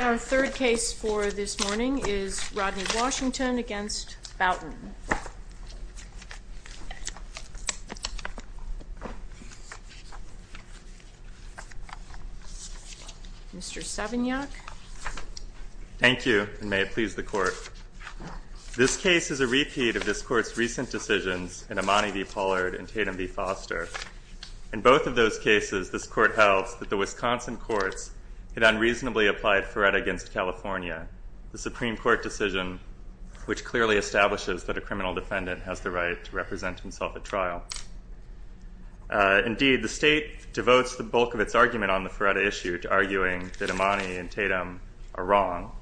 Our third case for this morning is Rodney Washington v. Boughton. Mr. Savignac Thank you, and may it please the Court. This case is a repeat of this Court's recent decisions in Amani v. Pollard and Tatum v. Foster. In both of those cases, this Court held that the Wisconsin courts had unreasonably applied Faret against California, the Supreme Court decision which clearly establishes that a criminal defendant has the right to represent himself at trial. Indeed, the State devotes the bulk of its argument on the Faret issue to arguing that Amani and Tatum are wrong,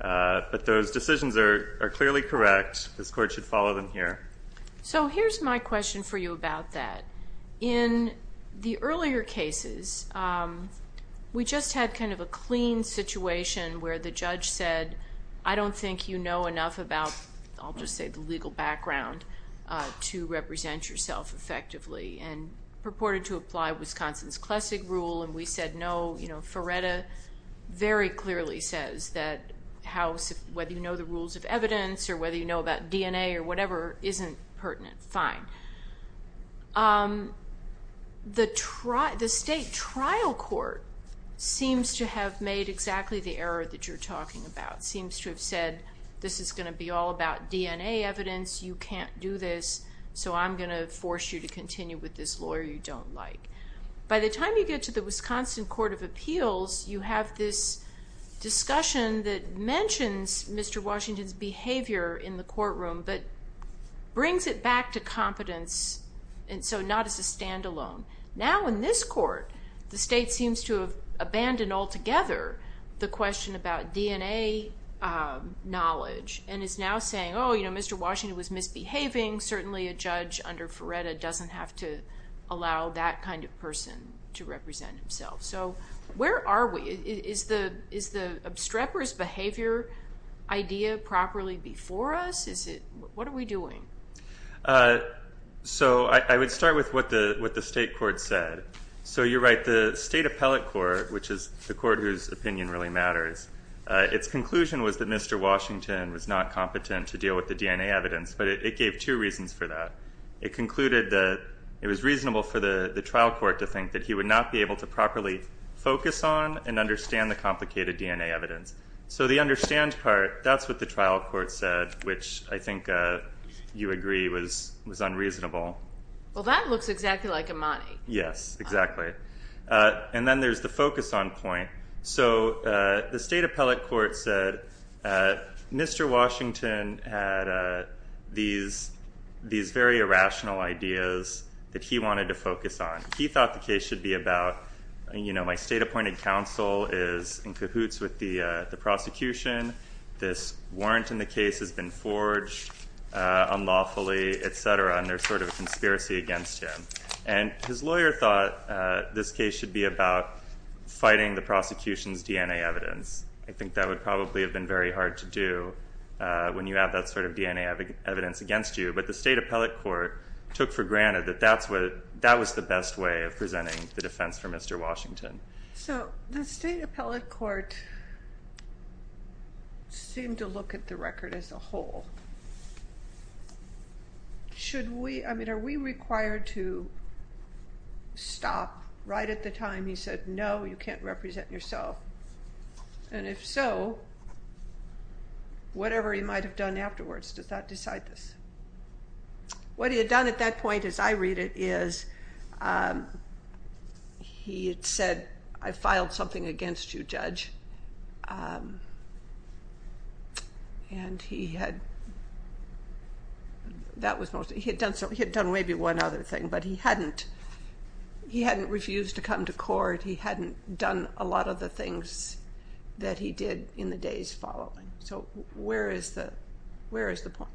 but those decisions are clearly correct. This Court should follow them here. So here's my question for you about that. In the earlier cases, we just had kind of a clean situation where the judge said, I don't think you know enough about, I'll just say the legal background, to represent yourself effectively, and purported to apply Wisconsin's classic rule, and we said no. Faretta very clearly says that whether you know the rules of evidence or whether you know about DNA or whatever isn't pertinent, fine. The State trial court seems to have made exactly the error that you're talking about. It seems to have said, this is going to be all about DNA evidence, you can't do this, so I'm going to force you to continue with this lawyer you don't like. By the time you get to the Wisconsin Court of Appeals, you have this discussion that mentions Mr. Washington's behavior in the courtroom, but brings it back to competence, and so not as a standalone. Now in this court, the State seems to have abandoned altogether the question about DNA knowledge, and is now saying, oh, you know, Mr. Washington was misbehaving, certainly a judge under Faretta doesn't have to allow that kind of person to represent himself. So where are we? Is the obstreperous behavior idea properly before us? What are we doing? So I would start with what the State court said. So you're right, the State appellate court, which is the court whose opinion really matters, its conclusion was that Mr. Washington was not competent to deal with the DNA evidence, but it gave two reasons for that. It concluded that it was reasonable for the trial court to think that he would not be able to properly focus on and understand the complicated DNA evidence. So the understand part, that's what the trial court said, which I think you agree was unreasonable. Well, that looks exactly like Imani. Yes, exactly. And then there's the focus on point. So the State appellate court said Mr. Washington had these very irrational ideas that he wanted to focus on. He thought the case should be about, you know, my State appointed counsel is in cahoots with the prosecution. This warrant in the case has been forged unlawfully, et cetera, and there's sort of a conspiracy against him. And his lawyer thought this case should be about fighting the prosecution's DNA evidence. I think that would probably have been very hard to do when you have that sort of DNA evidence against you, but the State appellate court took for granted that that was the best way of presenting the defense for Mr. Washington. So the State appellate court seemed to look at the record as a whole. I mean, are we required to stop right at the time he said, no, you can't represent yourself? And if so, whatever he might have done afterwards does not decide this. What he had done at that point, as I read it, is he had said, I filed something against you, judge. And he had done maybe one other thing, but he hadn't refused to come to court. He hadn't done a lot of the things that he did in the days following. So where is the point?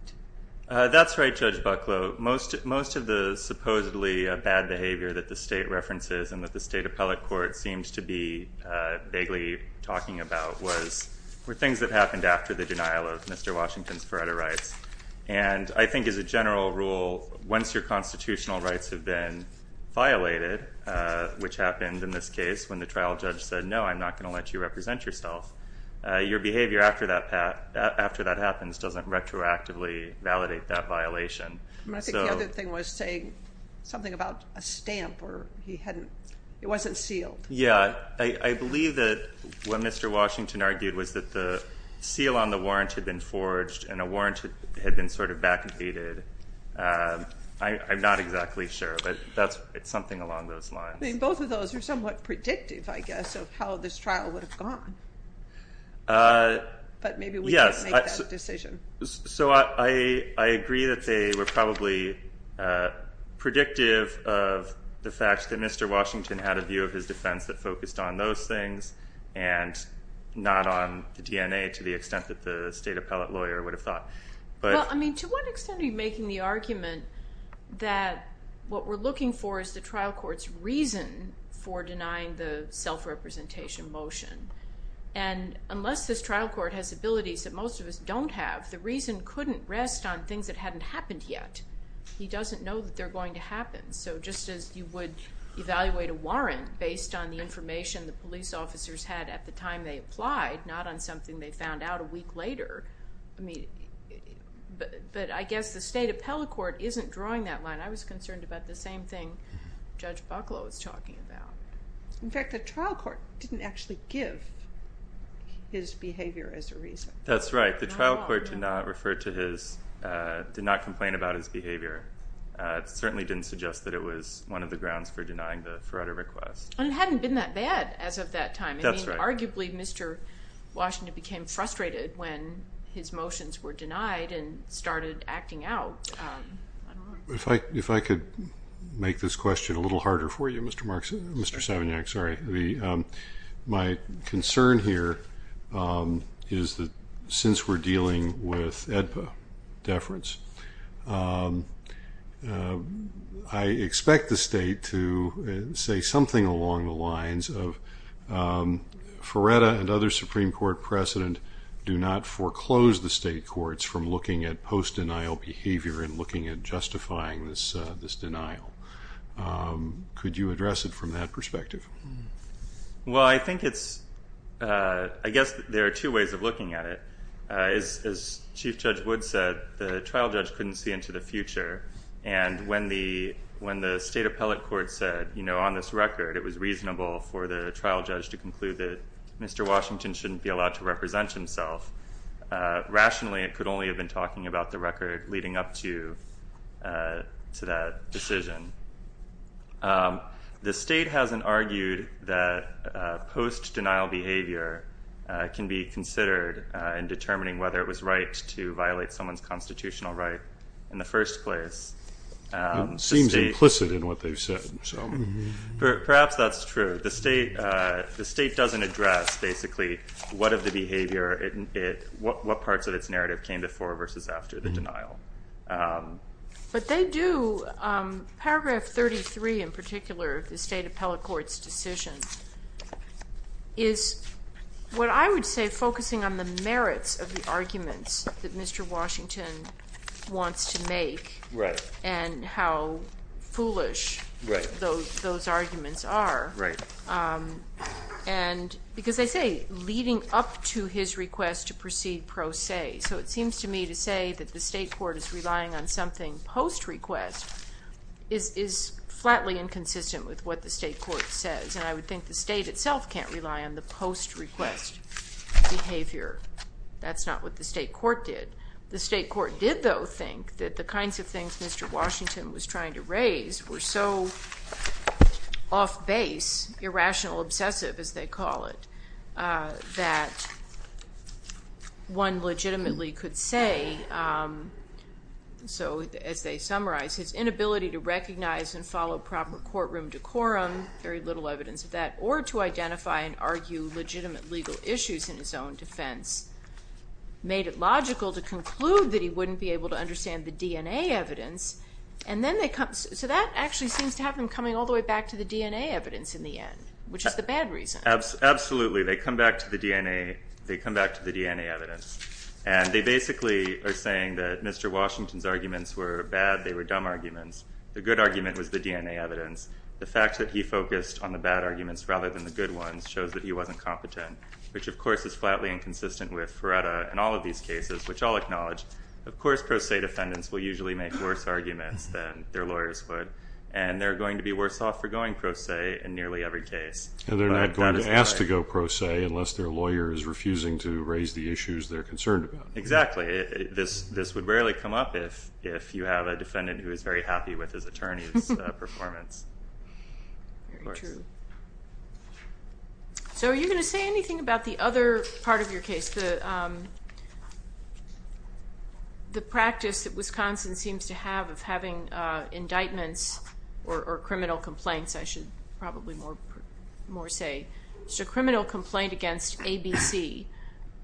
That's right, Judge Bucklow. Most of the supposedly bad behavior that the State references and that the State appellate court seems to be talking about were things that happened after the denial of Mr. Washington's forever rights. And I think as a general rule, once your constitutional rights have been violated, which happened in this case when the trial judge said, no, I'm not going to let you represent yourself, your behavior after that happens doesn't retroactively validate that violation. I think the other thing was saying something about a stamp or he hadn't, it wasn't sealed. Yeah, I believe that what Mr. Washington argued was that the seal on the warrant had been forged and a warrant had been sort of backdated. I'm not exactly sure, but it's something along those lines. Both of those are somewhat predictive, I guess, of how this trial would have gone. But maybe we can't make that decision. So I agree that they were probably predictive of the fact that Mr. Washington had a view of his defense that focused on those things and not on the DNA to the extent that the State appellate lawyer would have thought. Well, I mean, to what extent are you making the argument that what we're looking for is the trial court's reason for denying the self-representation motion? And unless this trial court has abilities that most of us don't have, the reason couldn't rest on things that hadn't happened yet. He doesn't know that they're going to happen. So just as you would evaluate a warrant based on the information the police officers had at the time they applied, not on something they found out a week later. But I guess the State appellate court isn't drawing that line. I was concerned about the same thing Judge Bucklow was talking about. In fact, the trial court didn't actually give his behavior as a reason. That's right. The trial court did not refer to his, did not complain about his behavior. It certainly didn't suggest that it was one of the grounds for denying the Fretter request. And it hadn't been that bad as of that time. That's right. I mean, arguably, Mr. Washington became frustrated when his motions were denied and started acting out. If I could make this question a little harder for you, Mr. Savignac. Sorry. My concern here is that since we're dealing with AEDPA deference, I expect the State to say something along the lines of Fretter and other Supreme Court precedent do not foreclose the State courts from looking at post-denial behavior and looking at justifying this denial. Could you address it from that perspective? Well, I think it's, I guess there are two ways of looking at it. As Chief Judge Wood said, the trial judge couldn't see into the future. And when the State appellate court said, you know, on this record, it was reasonable for the trial judge to conclude that Mr. Washington shouldn't be allowed to represent himself, rationally it could only have been talking about the record leading up to that decision. The State hasn't argued that post-denial behavior can be considered in determining whether it was right to violate someone's constitutional right in the first place. It seems implicit in what they've said. Perhaps that's true. The State doesn't address basically what of the behavior, what parts of its narrative came before versus after the denial. But they do. Paragraph 33 in particular, the State appellate court's decision, is what I would say focusing on the merits of the arguments that Mr. Washington wants to make and how foolish those arguments are. And because they say leading up to his request to proceed pro se. So it seems to me to say that the State court is relying on something post-request is flatly inconsistent with what the State court says. And I would think the State itself can't rely on the post-request behavior. That's not what the State court did. The State court did, though, think that the kinds of things Mr. Washington was trying to raise were so off-base, irrational, obsessive, as they call it, that one legitimately could say, so as they summarize, his inability to recognize and follow proper courtroom decorum, very little evidence of that, or to identify and argue legitimate legal issues in his own defense, made it logical to conclude that he wouldn't be able to understand the DNA evidence. So that actually seems to have them coming all the way back to the DNA evidence in the end, which is the bad reason. Absolutely. They come back to the DNA evidence. And they basically are saying that Mr. Washington's arguments were bad. They were dumb arguments. The good argument was the DNA evidence. The fact that he focused on the bad arguments rather than the good ones shows that he wasn't competent, which, of course, is flatly inconsistent with Feretta in all of these cases, which I'll acknowledge. Of course, pro se defendants will usually make worse arguments than their lawyers would, and they're going to be worse off for going pro se in nearly every case. And they're not going to be asked to go pro se unless their lawyer is refusing to raise the issues they're concerned about. Exactly. This would rarely come up if you have a defendant who is very happy with his attorney's performance. Very true. So are you going to say anything about the other part of your case, the practice that Wisconsin seems to have of having indictments or criminal complaints, I should probably more say. It's a criminal complaint against ABC,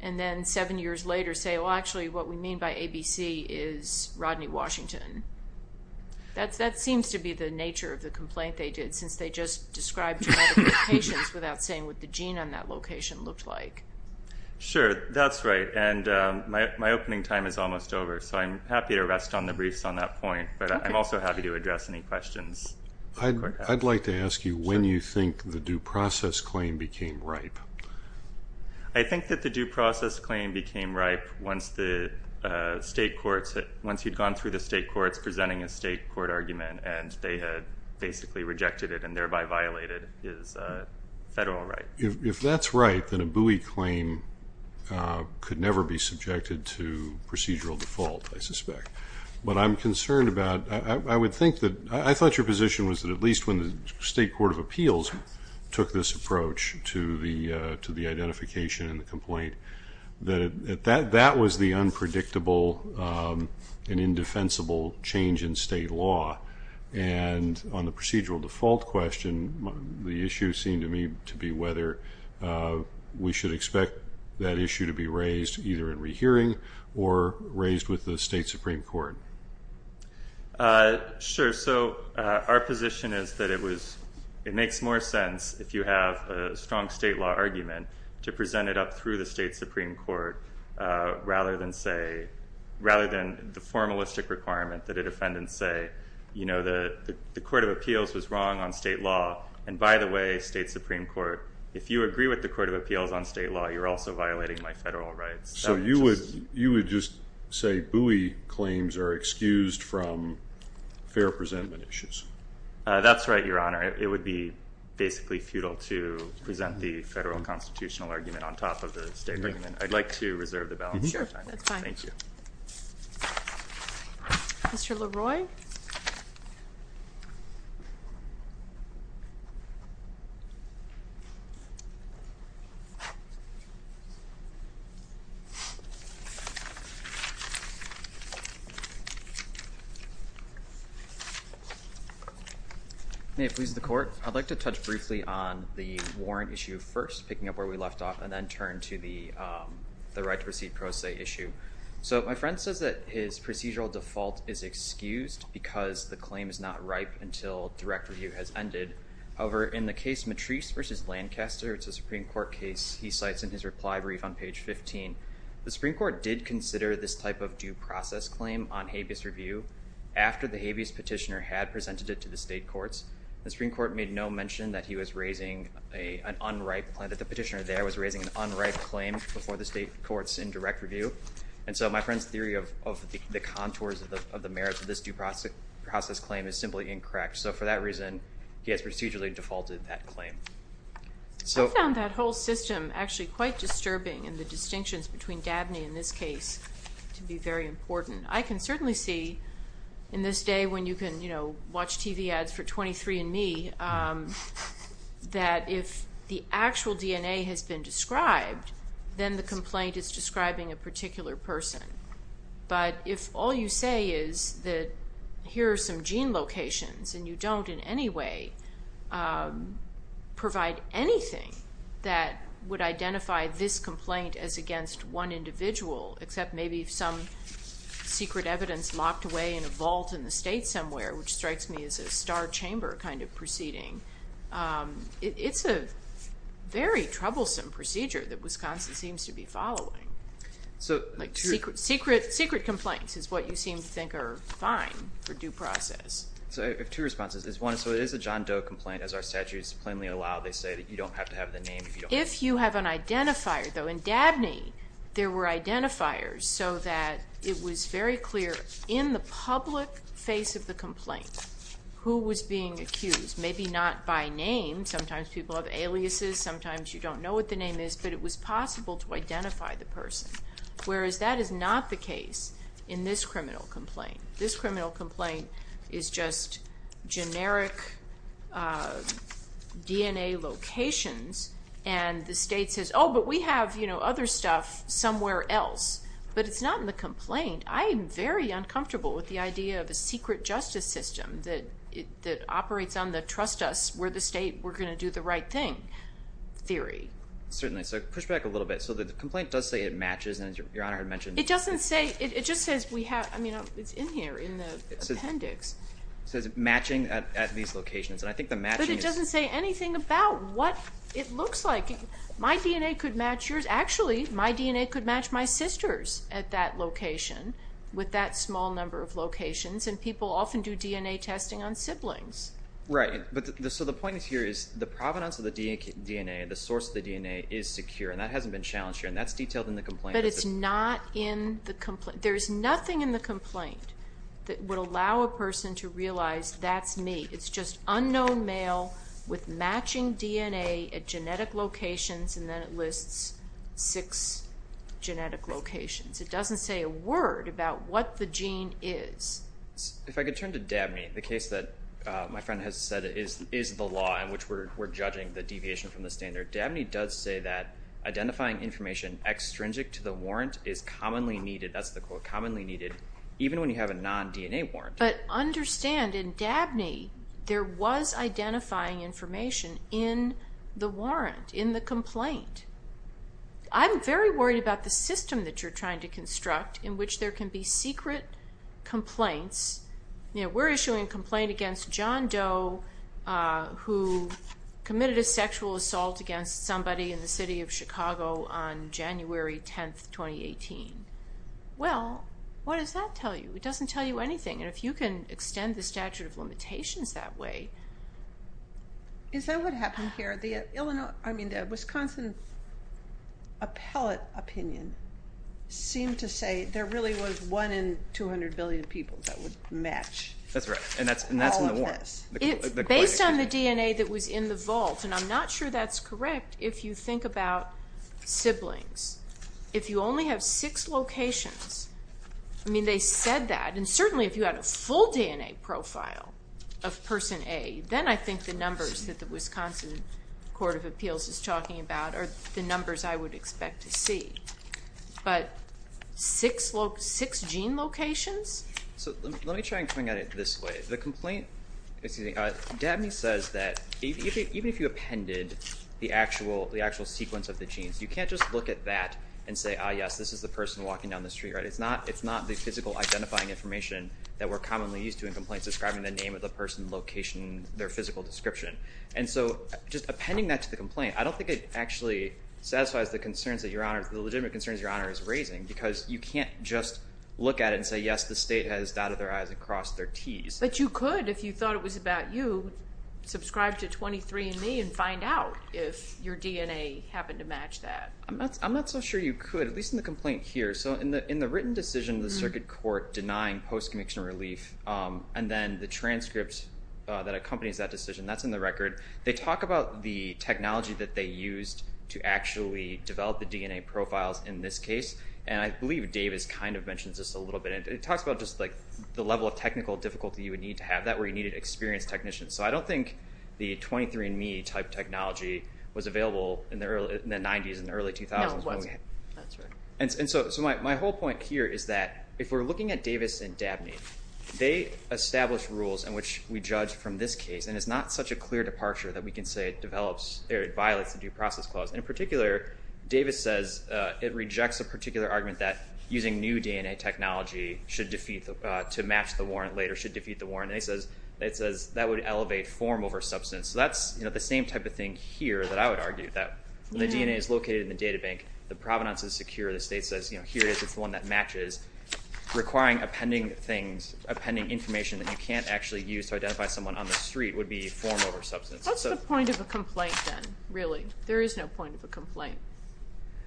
and then seven years later say, well, actually what we mean by ABC is Rodney Washington. That seems to be the nature of the complaint they did, since they just described two modifications without saying what the gene on that location looked like. Sure. That's right. And my opening time is almost over, so I'm happy to rest on the briefs on that point, but I'm also happy to address any questions. I'd like to ask you when you think the due process claim became ripe. I think that the due process claim became ripe once you'd gone through the state courts presenting a state court argument and they had basically rejected it and thereby violated his federal right. If that's right, then a Bowie claim could never be subjected to procedural default, I suspect. But I'm concerned about, I would think that, I thought your position was that at least when the state court of appeals took this approach to the identification and the complaint, that that was the unpredictable and indefensible change in state law. And on the procedural default question, the issue seemed to me to be whether we should expect that issue to be raised either in rehearing or raised with the state Supreme Court. Sure. So our position is that it makes more sense, if you have a strong state law argument, to present it up through the state Supreme Court rather than say, rather than the formalistic requirement that a defendant say, you know, the court of appeals was wrong on state law, and by the way, state Supreme Court, if you agree with the court of appeals on state law, you're also violating my federal rights. So you would just say Bowie claims are excused from fair presentment issues? That's right, Your Honor. It would be basically futile to present the federal constitutional argument on top of the state argument. I'd like to reserve the balance of your time. Sure, that's fine. Thank you. Mr. LaRoy? May it please the court? I'd like to touch briefly on the warrant issue first, picking up where we left off, and then turn to the right to proceed pro se issue. So my friend says that his procedural default is excused because the claim is not ripe until direct review has ended. However, in the case Matrice v. Lancaster, it's a Supreme Court case, he cites in his reply brief on page 15. The Supreme Court did consider this type of due process claim on habeas review after the habeas petitioner had presented it to the state courts. The Supreme Court made no mention that he was raising an unripe claim, that the petitioner there was raising an unripe claim before the state courts in direct review. And so my friend's theory of the contours of the merits of this due process claim is simply incorrect. So for that reason, he has procedurally defaulted that claim. I found that whole system actually quite disturbing, and the distinctions between Dabney and this case to be very important. I can certainly see, in this day when you can watch TV ads for 23andMe, that if the actual DNA has been described, then the complaint is describing a particular person. But if all you say is that here are some gene locations, and you don't in any way provide anything that would identify this complaint as against one individual, except maybe some secret evidence locked away in a vault in the state somewhere, which strikes me as a star chamber kind of proceeding, it's a very troublesome procedure that Wisconsin seems to be following. Secret complaints is what you seem to think are fine for due process. So I have two responses. One, so it is a John Doe complaint, as our statutes plainly allow. They say that you don't have to have the name if you don't want to. If you have an identifier, though, in Dabney there were identifiers so that it was very clear in the public face of the complaint who was being accused. Maybe not by name. Sometimes people have aliases. Sometimes you don't know what the name is. But it was possible to identify the person, whereas that is not the case in this criminal complaint. This criminal complaint is just generic DNA locations, and the state says, oh, but we have other stuff somewhere else. But it's not in the complaint. I am very uncomfortable with the idea of a secret justice system that operates on the trust us, we're the state, we're going to do the right thing theory. Certainly. So push back a little bit. So the complaint does say it matches, and as Your Honor had mentioned. It doesn't say, it just says we have, I mean, it's in here in the appendix. It says matching at these locations, and I think the matching is. But it doesn't say anything about what it looks like. My DNA could match yours. Actually, my DNA could match my sister's at that location with that small number of locations, and people often do DNA testing on siblings. Right. So the point here is the provenance of the DNA, the source of the DNA is secure, and that hasn't been challenged here, and that's detailed in the complaint. But it's not in the complaint. There's nothing in the complaint that would allow a person to realize that's me. It's just unknown male with matching DNA at genetic locations, and then it lists six genetic locations. It doesn't say a word about what the gene is. If I could turn to Dabney, the case that my friend has said is the law in which we're judging the deviation from the standard. Dabney does say that identifying information extrinsic to the warrant is commonly needed. That's the quote, commonly needed, even when you have a non-DNA warrant. But understand, in Dabney, there was identifying information in the warrant, in the complaint. I'm very worried about the system that you're trying to construct in which there can be secret complaints. We're issuing a complaint against John Doe, who committed a sexual assault against somebody in the city of Chicago on January 10, 2018. Well, what does that tell you? It doesn't tell you anything, and if you can extend the statute of limitations that way. Is that what happened here? The Wisconsin appellate opinion seemed to say there really was one in 200 billion people that would match all of this. That's right, and that's in the warrant. Based on the DNA that was in the vault, and I'm not sure that's correct, if you think about siblings. If you only have six locations, they said that, and certainly if you had a full DNA profile of Person A, then I think the numbers that the Wisconsin Court of Appeals is talking about are the numbers I would expect to see. But six gene locations? So let me try and come at it this way. The complaint, excuse me, Dabney says that even if you appended the actual sequence of the genes, you can't just look at that and say, ah, yes, this is the person walking down the street. It's not the physical identifying information that we're commonly used to in complaints describing the name of the person, location, their physical description. And so just appending that to the complaint, I don't think it actually satisfies the legitimate concerns Your Honor is raising because you can't just look at it and say, yes, the state has dotted their I's and crossed their T's. But you could if you thought it was about you. Subscribe to 23andMe and find out if your DNA happened to match that. I'm not so sure you could, at least in the complaint here. So in the written decision, the circuit court denying post-conviction relief and then the transcript that accompanies that decision, that's in the record. They talk about the technology that they used to actually develop the DNA profiles in this case. And I believe Davis kind of mentions this a little bit. It talks about just like the level of technical difficulty you would need to have, that where you needed experienced technicians. So I don't think the 23andMe type technology was available in the 90s and early 2000s. No, it was. That's right. And so my whole point here is that if we're looking at Davis and Dabney, they established rules in which we judge from this case. And it's not such a clear departure that we can say it develops or it violates the due process clause. In particular, Davis says it rejects a particular argument that using new DNA technology to match the warrant later should defeat the warrant. And it says that would elevate form over substance. So that's the same type of thing here that I would argue, that the DNA is located in the data bank. The provenance is secure. The state says here it is. It's the one that matches. Requiring appending things, appending information that you can't actually use to identify someone on the street would be form over substance. What's the point of a complaint then, really? There is no point of a complaint.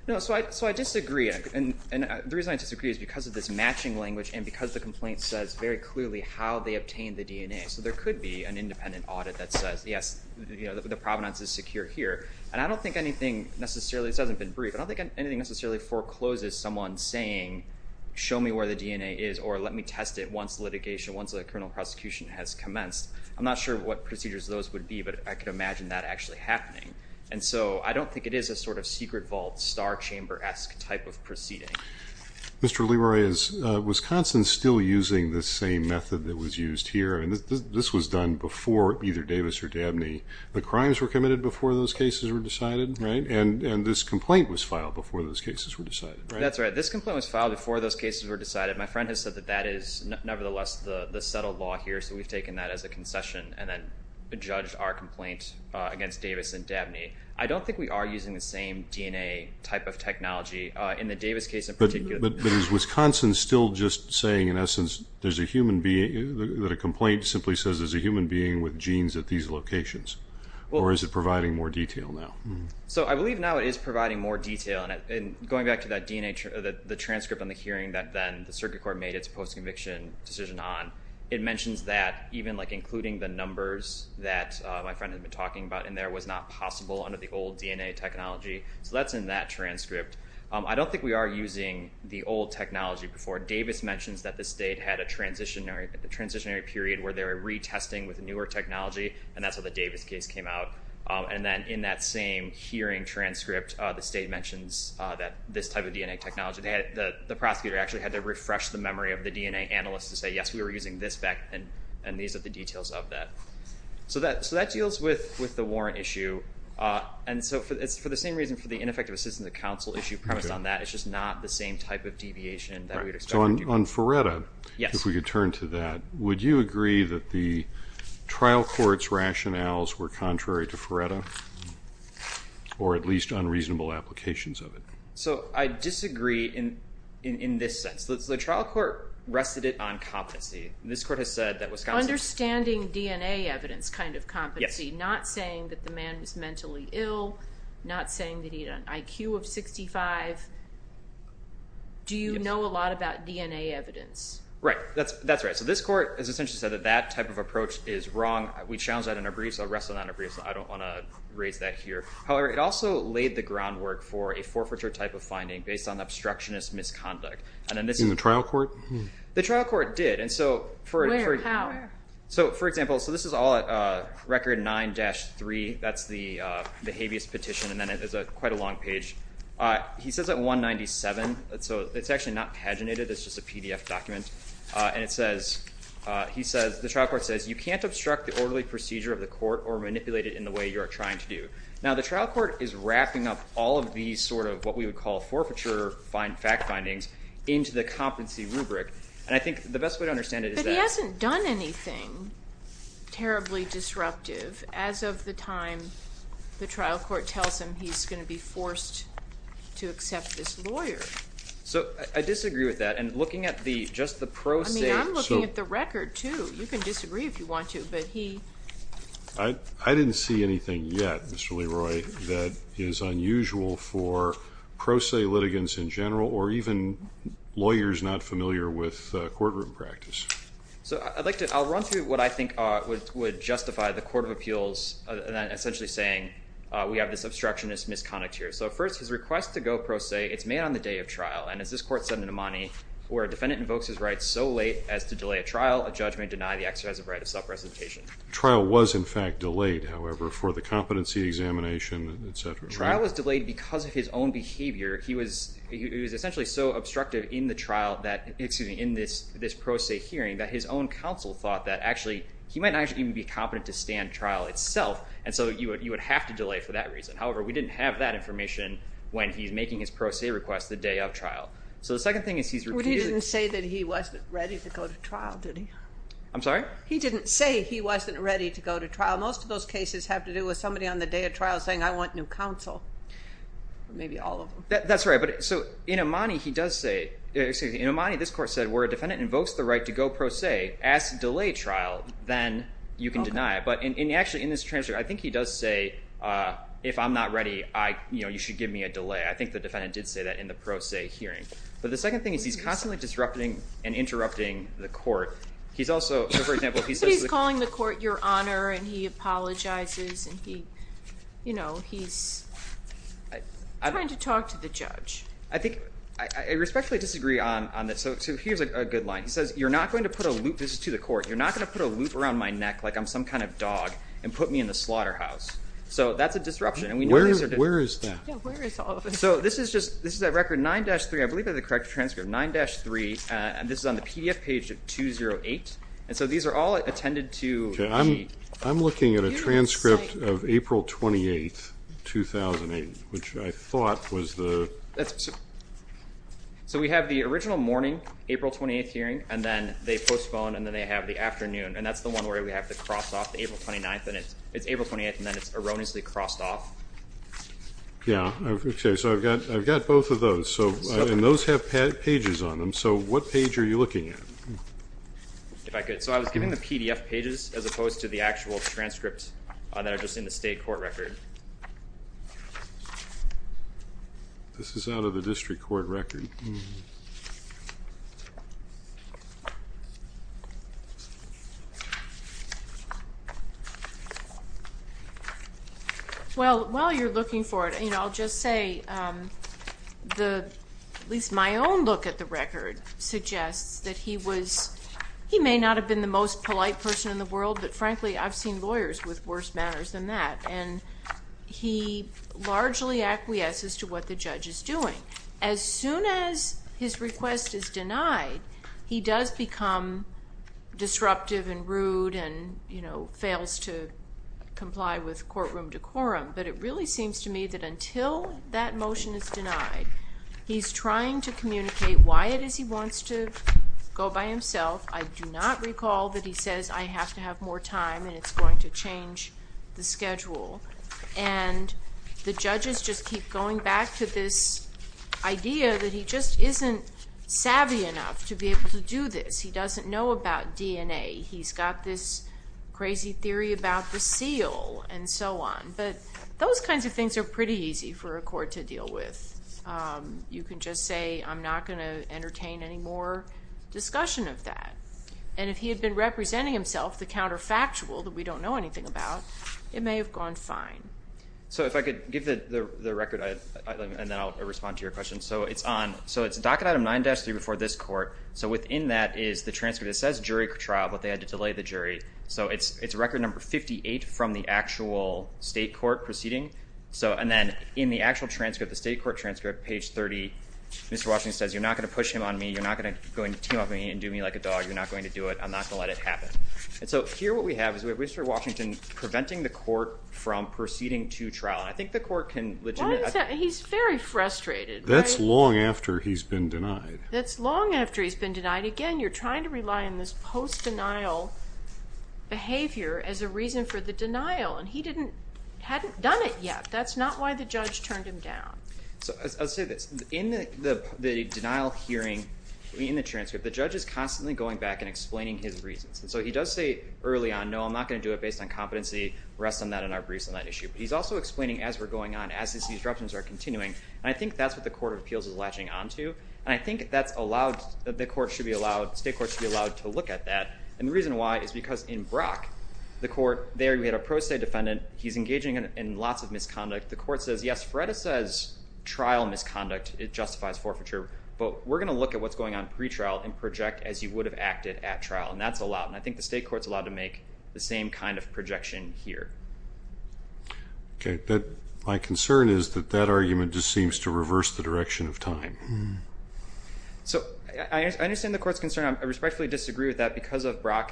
No, so I disagree. And the reason I disagree is because of this matching language and because the complaint says very clearly how they obtained the DNA. So there could be an independent audit that says, yes, the provenance is secure here. And I don't think anything necessarily, this hasn't been briefed, but I don't think anything necessarily forecloses someone saying, show me where the DNA is or let me test it once litigation, once a criminal prosecution has commenced. I'm not sure what procedures those would be, but I can imagine that actually happening. And so I don't think it is a sort of secret vault, star chamber-esque type of proceeding. Mr. Leroy, is Wisconsin still using the same method that was used here? And this was done before either Davis or Dabney. The crimes were committed before those cases were decided, right? And this complaint was filed before those cases were decided, right? That's right. This complaint was filed before those cases were decided. My friend has said that that is nevertheless the settled law here, so we've taken that as a concession and then judged our complaint against Davis and Dabney. I don't think we are using the same DNA type of technology in the Davis case in particular. But is Wisconsin still just saying, in essence, that a complaint simply says there's a human being with genes at these locations? Or is it providing more detail now? So I believe now it is providing more detail. And going back to the transcript on the hearing that then the circuit court made its post-conviction decision on, it mentions that even including the numbers that my friend had been talking about in there was not possible under the old DNA technology. So that's in that transcript. I don't think we are using the old technology before. Davis mentions that the state had a transitionary period where they were retesting with newer technology, and that's how the Davis case came out. And then in that same hearing transcript, the state mentions this type of DNA technology. The prosecutor actually had to refresh the memory of the DNA analyst to say, yes, we were using this back then, and these are the details of that. So that deals with the warrant issue. And so it's for the same reason for the ineffective assistance of counsel issue premised on that. It's just not the same type of deviation that we would expect. So on Ferretta, if we could turn to that, would you agree that the trial court's rationales were contrary to Ferretta, or at least unreasonable applications of it? So I disagree in this sense. The trial court rested it on competency. This court has said that Wisconsin... Understanding DNA evidence kind of competency, not saying that the man was mentally ill, not saying that he had an IQ of 65. Do you know a lot about DNA evidence? Right. That's right. So this court has essentially said that that type of approach is wrong. We challenged that in our briefs. I'll wrestle that in our briefs. I don't want to raise that here. However, it also laid the groundwork for a forfeiture type of finding based on obstructionist misconduct. In the trial court? The trial court did. Where? How? So, for example, this is all record 9-3. That's the habeas petition, and then it's quite a long page. He says at 197. It's actually not paginated. It's just a PDF document. And it says, he says, the trial court says, you can't obstruct the orderly procedure of the court or manipulate it in the way you are trying to do. Now, the trial court is wrapping up all of these sort of what we would call forfeiture fact findings into the competency rubric. And I think the best way to understand it is that... But he hasn't done anything terribly disruptive. As of the time the trial court tells him he's going to be forced to accept this lawyer. So, I disagree with that. And looking at just the pro se... I mean, I'm looking at the record, too. You can disagree if you want to, but he... I didn't see anything yet, Mr. Leroy, that is unusual for pro se litigants in general or even lawyers not familiar with courtroom practice. So, I'd like to... I'll run through what I think would justify the Court of Appeals essentially saying we have this obstructionist misconduct here. So, first, his request to go pro se, it's made on the day of trial. And as this court said in Imani, where a defendant invokes his right so late as to delay a trial, a judge may deny the exercise of right of self-presentation. Trial was, in fact, delayed, however, for the competency examination, et cetera. Trial was delayed because of his own behavior. He was essentially so obstructive in the trial that... Excuse me, in this pro se hearing that his own counsel thought that actually he might not even be competent to stand trial itself. And so, you would have to delay for that reason. However, we didn't have that information when he's making his pro se request the day of trial. So, the second thing is he's repeatedly... But he didn't say that he wasn't ready to go to trial, did he? I'm sorry? He didn't say he wasn't ready to go to trial. Most of those cases have to do with somebody on the day of trial saying, I want new counsel, maybe all of them. That's right. So, in Imani, he does say... Excuse me, in Imani, this court said where a defendant invokes the right to go pro se as to delay trial, then you can deny it. But actually, in this transcript, I think he does say, if I'm not ready, you should give me a delay. I think the defendant did say that in the pro se hearing. But the second thing is he's constantly disrupting and interrupting the court. He's also... He's calling the court your honor, and he apologizes, and he's trying to talk to the judge. I think... I respectfully disagree on this. So, here's a good line. He says, you're not going to put a loop... This is to the court. You're not going to put a loop around my neck like I'm some kind of dog and put me in the slaughterhouse. So, that's a disruption. Where is that? Yeah, where is all of this? So, this is just... This is at record 9-3. I believe I have the correct transcript. 9-3. This is on the PDF page of 208. And so, these are all attended to. I'm looking at a transcript of April 28th, 2008, which I thought was the... So, we have the original morning, April 28th hearing, and then they postpone, and then they have the afternoon. And that's the one where we have the cross-off, April 29th. And it's April 28th, and then it's erroneously crossed off. Yeah. Okay. So, I've got both of those. And those have pages on them. So, what page are you looking at? If I could. So, I was giving the PDF pages as opposed to the actual transcripts that are just in the state court record. This is out of the district court record. Okay. Well, while you're looking for it, I'll just say, at least my own look at the record suggests that he was... He may not have been the most polite person in the world, but frankly, I've seen lawyers with worse manners than that. And he largely acquiesces to what the judge is doing. As soon as his request is denied, he does become disruptive and rude and, you know, fails to comply with courtroom decorum. But it really seems to me that until that motion is denied, he's trying to communicate why it is he wants to go by himself. I do not recall that he says, I have to have more time, and it's going to change the schedule. And the judges just keep going back to this idea that he just isn't savvy enough to be able to do this. He doesn't know about DNA. He's got this crazy theory about the seal and so on. But those kinds of things are pretty easy for a court to deal with. You can just say, I'm not going to entertain any more discussion of that. And if he had been representing himself, the counterfactual that we don't know anything about, it may have gone fine. So if I could give the record, and then I'll respond to your question. So it's on. So it's docket item 9-3 before this court. So within that is the transcript. It says jury trial, but they had to delay the jury. So it's record number 58 from the actual state court proceeding. And then in the actual transcript, the state court transcript, page 30, Mr. Washington says, you're not going to push him on me. You're not going to team up with me and do me like a dog. You're not going to do it. I'm not going to let it happen. And so here what we have is we have Mr. Washington preventing the court from proceeding to trial. And I think the court can legitimate that. He's very frustrated. That's long after he's been denied. That's long after he's been denied. Again, you're trying to rely on this post-denial behavior as a reason for the denial. And he hadn't done it yet. That's not why the judge turned him down. So I'll say this. In the denial hearing, in the transcript, the judge is constantly going back and explaining his reasons. And so he does say early on, no, I'm not going to do it based on competency. Rest on that in our briefs on that issue. But he's also explaining as we're going on, as these disruptions are continuing. And I think that's what the Court of Appeals is latching onto. And I think that's allowed, the court should be allowed, the state court should be allowed to look at that. And the reason why is because in Brock, the court, there we had a pro se defendant. He's engaging in lots of misconduct. The court says, yes, Feretta says trial misconduct, it justifies forfeiture. But we're going to look at what's going on pretrial and project as you would have acted at trial. And that's allowed. And I think the state court is allowed to make the same kind of projection here. Okay. My concern is that that argument just seems to reverse the direction of time. So I understand the court's concern. I respectfully disagree with that because of Brock.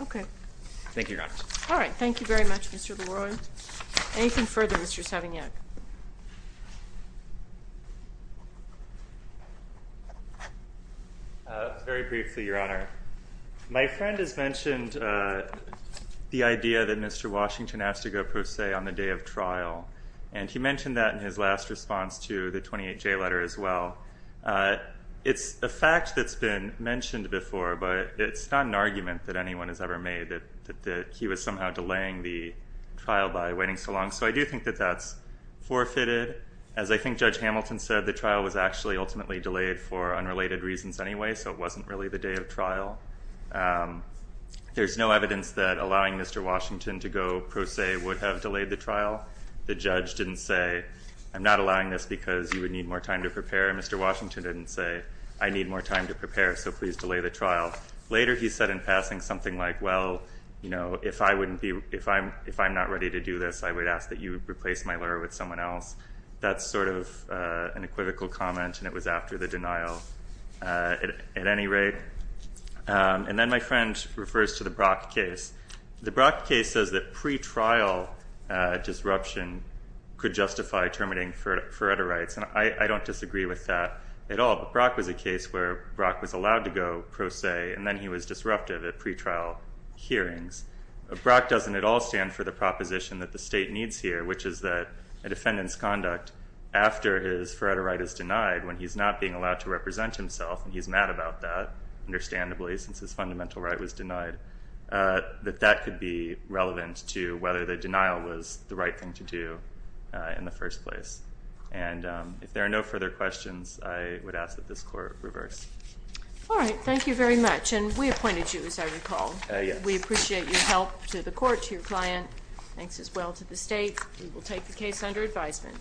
Okay. Thank you, Your Honor. All right. Thank you very much, Mr. Leroy. Anything further, Mr. Savignac? Very briefly, Your Honor. My friend has mentioned the idea that Mr. Washington has to go pro se on the day of trial. And he mentioned that in his last response to the 28J letter as well. It's a fact that's been mentioned before, but it's not an argument that anyone has ever made that he was somehow delaying the trial by waiting so long. So I do think that that's forfeited. As I think Judge Hamilton said, the trial was actually ultimately delayed for unrelated reasons anyway, so it wasn't really the day of trial. There's no evidence that allowing Mr. Washington to go pro se would have delayed the trial. The judge didn't say, I'm not allowing this because you would need more time to prepare. Mr. Washington didn't say, I need more time to prepare, so please delay the trial. Later he said in passing something like, well, you know, if I'm not ready to do this, I would ask that you replace my lawyer with someone else. That's sort of an equivocal comment, and it was after the denial at any rate. And then my friend refers to the Brock case. The Brock case says that pretrial disruption could justify terminating Feretta rights, and I don't disagree with that at all. But Brock was a case where Brock was allowed to go pro se, and then he was disruptive at pretrial hearings. Brock doesn't at all stand for the proposition that the state needs here, which is that a defendant's conduct after his Feretta right is denied, when he's not being allowed to represent himself, and he's mad about that, understandably, since his fundamental right was denied. That that could be relevant to whether the denial was the right thing to do in the first place. And if there are no further questions, I would ask that this court reverse. All right, thank you very much. And we appointed you, as I recall. We appreciate your help to the court, to your client. Thanks as well to the state. We will take the case under advisement.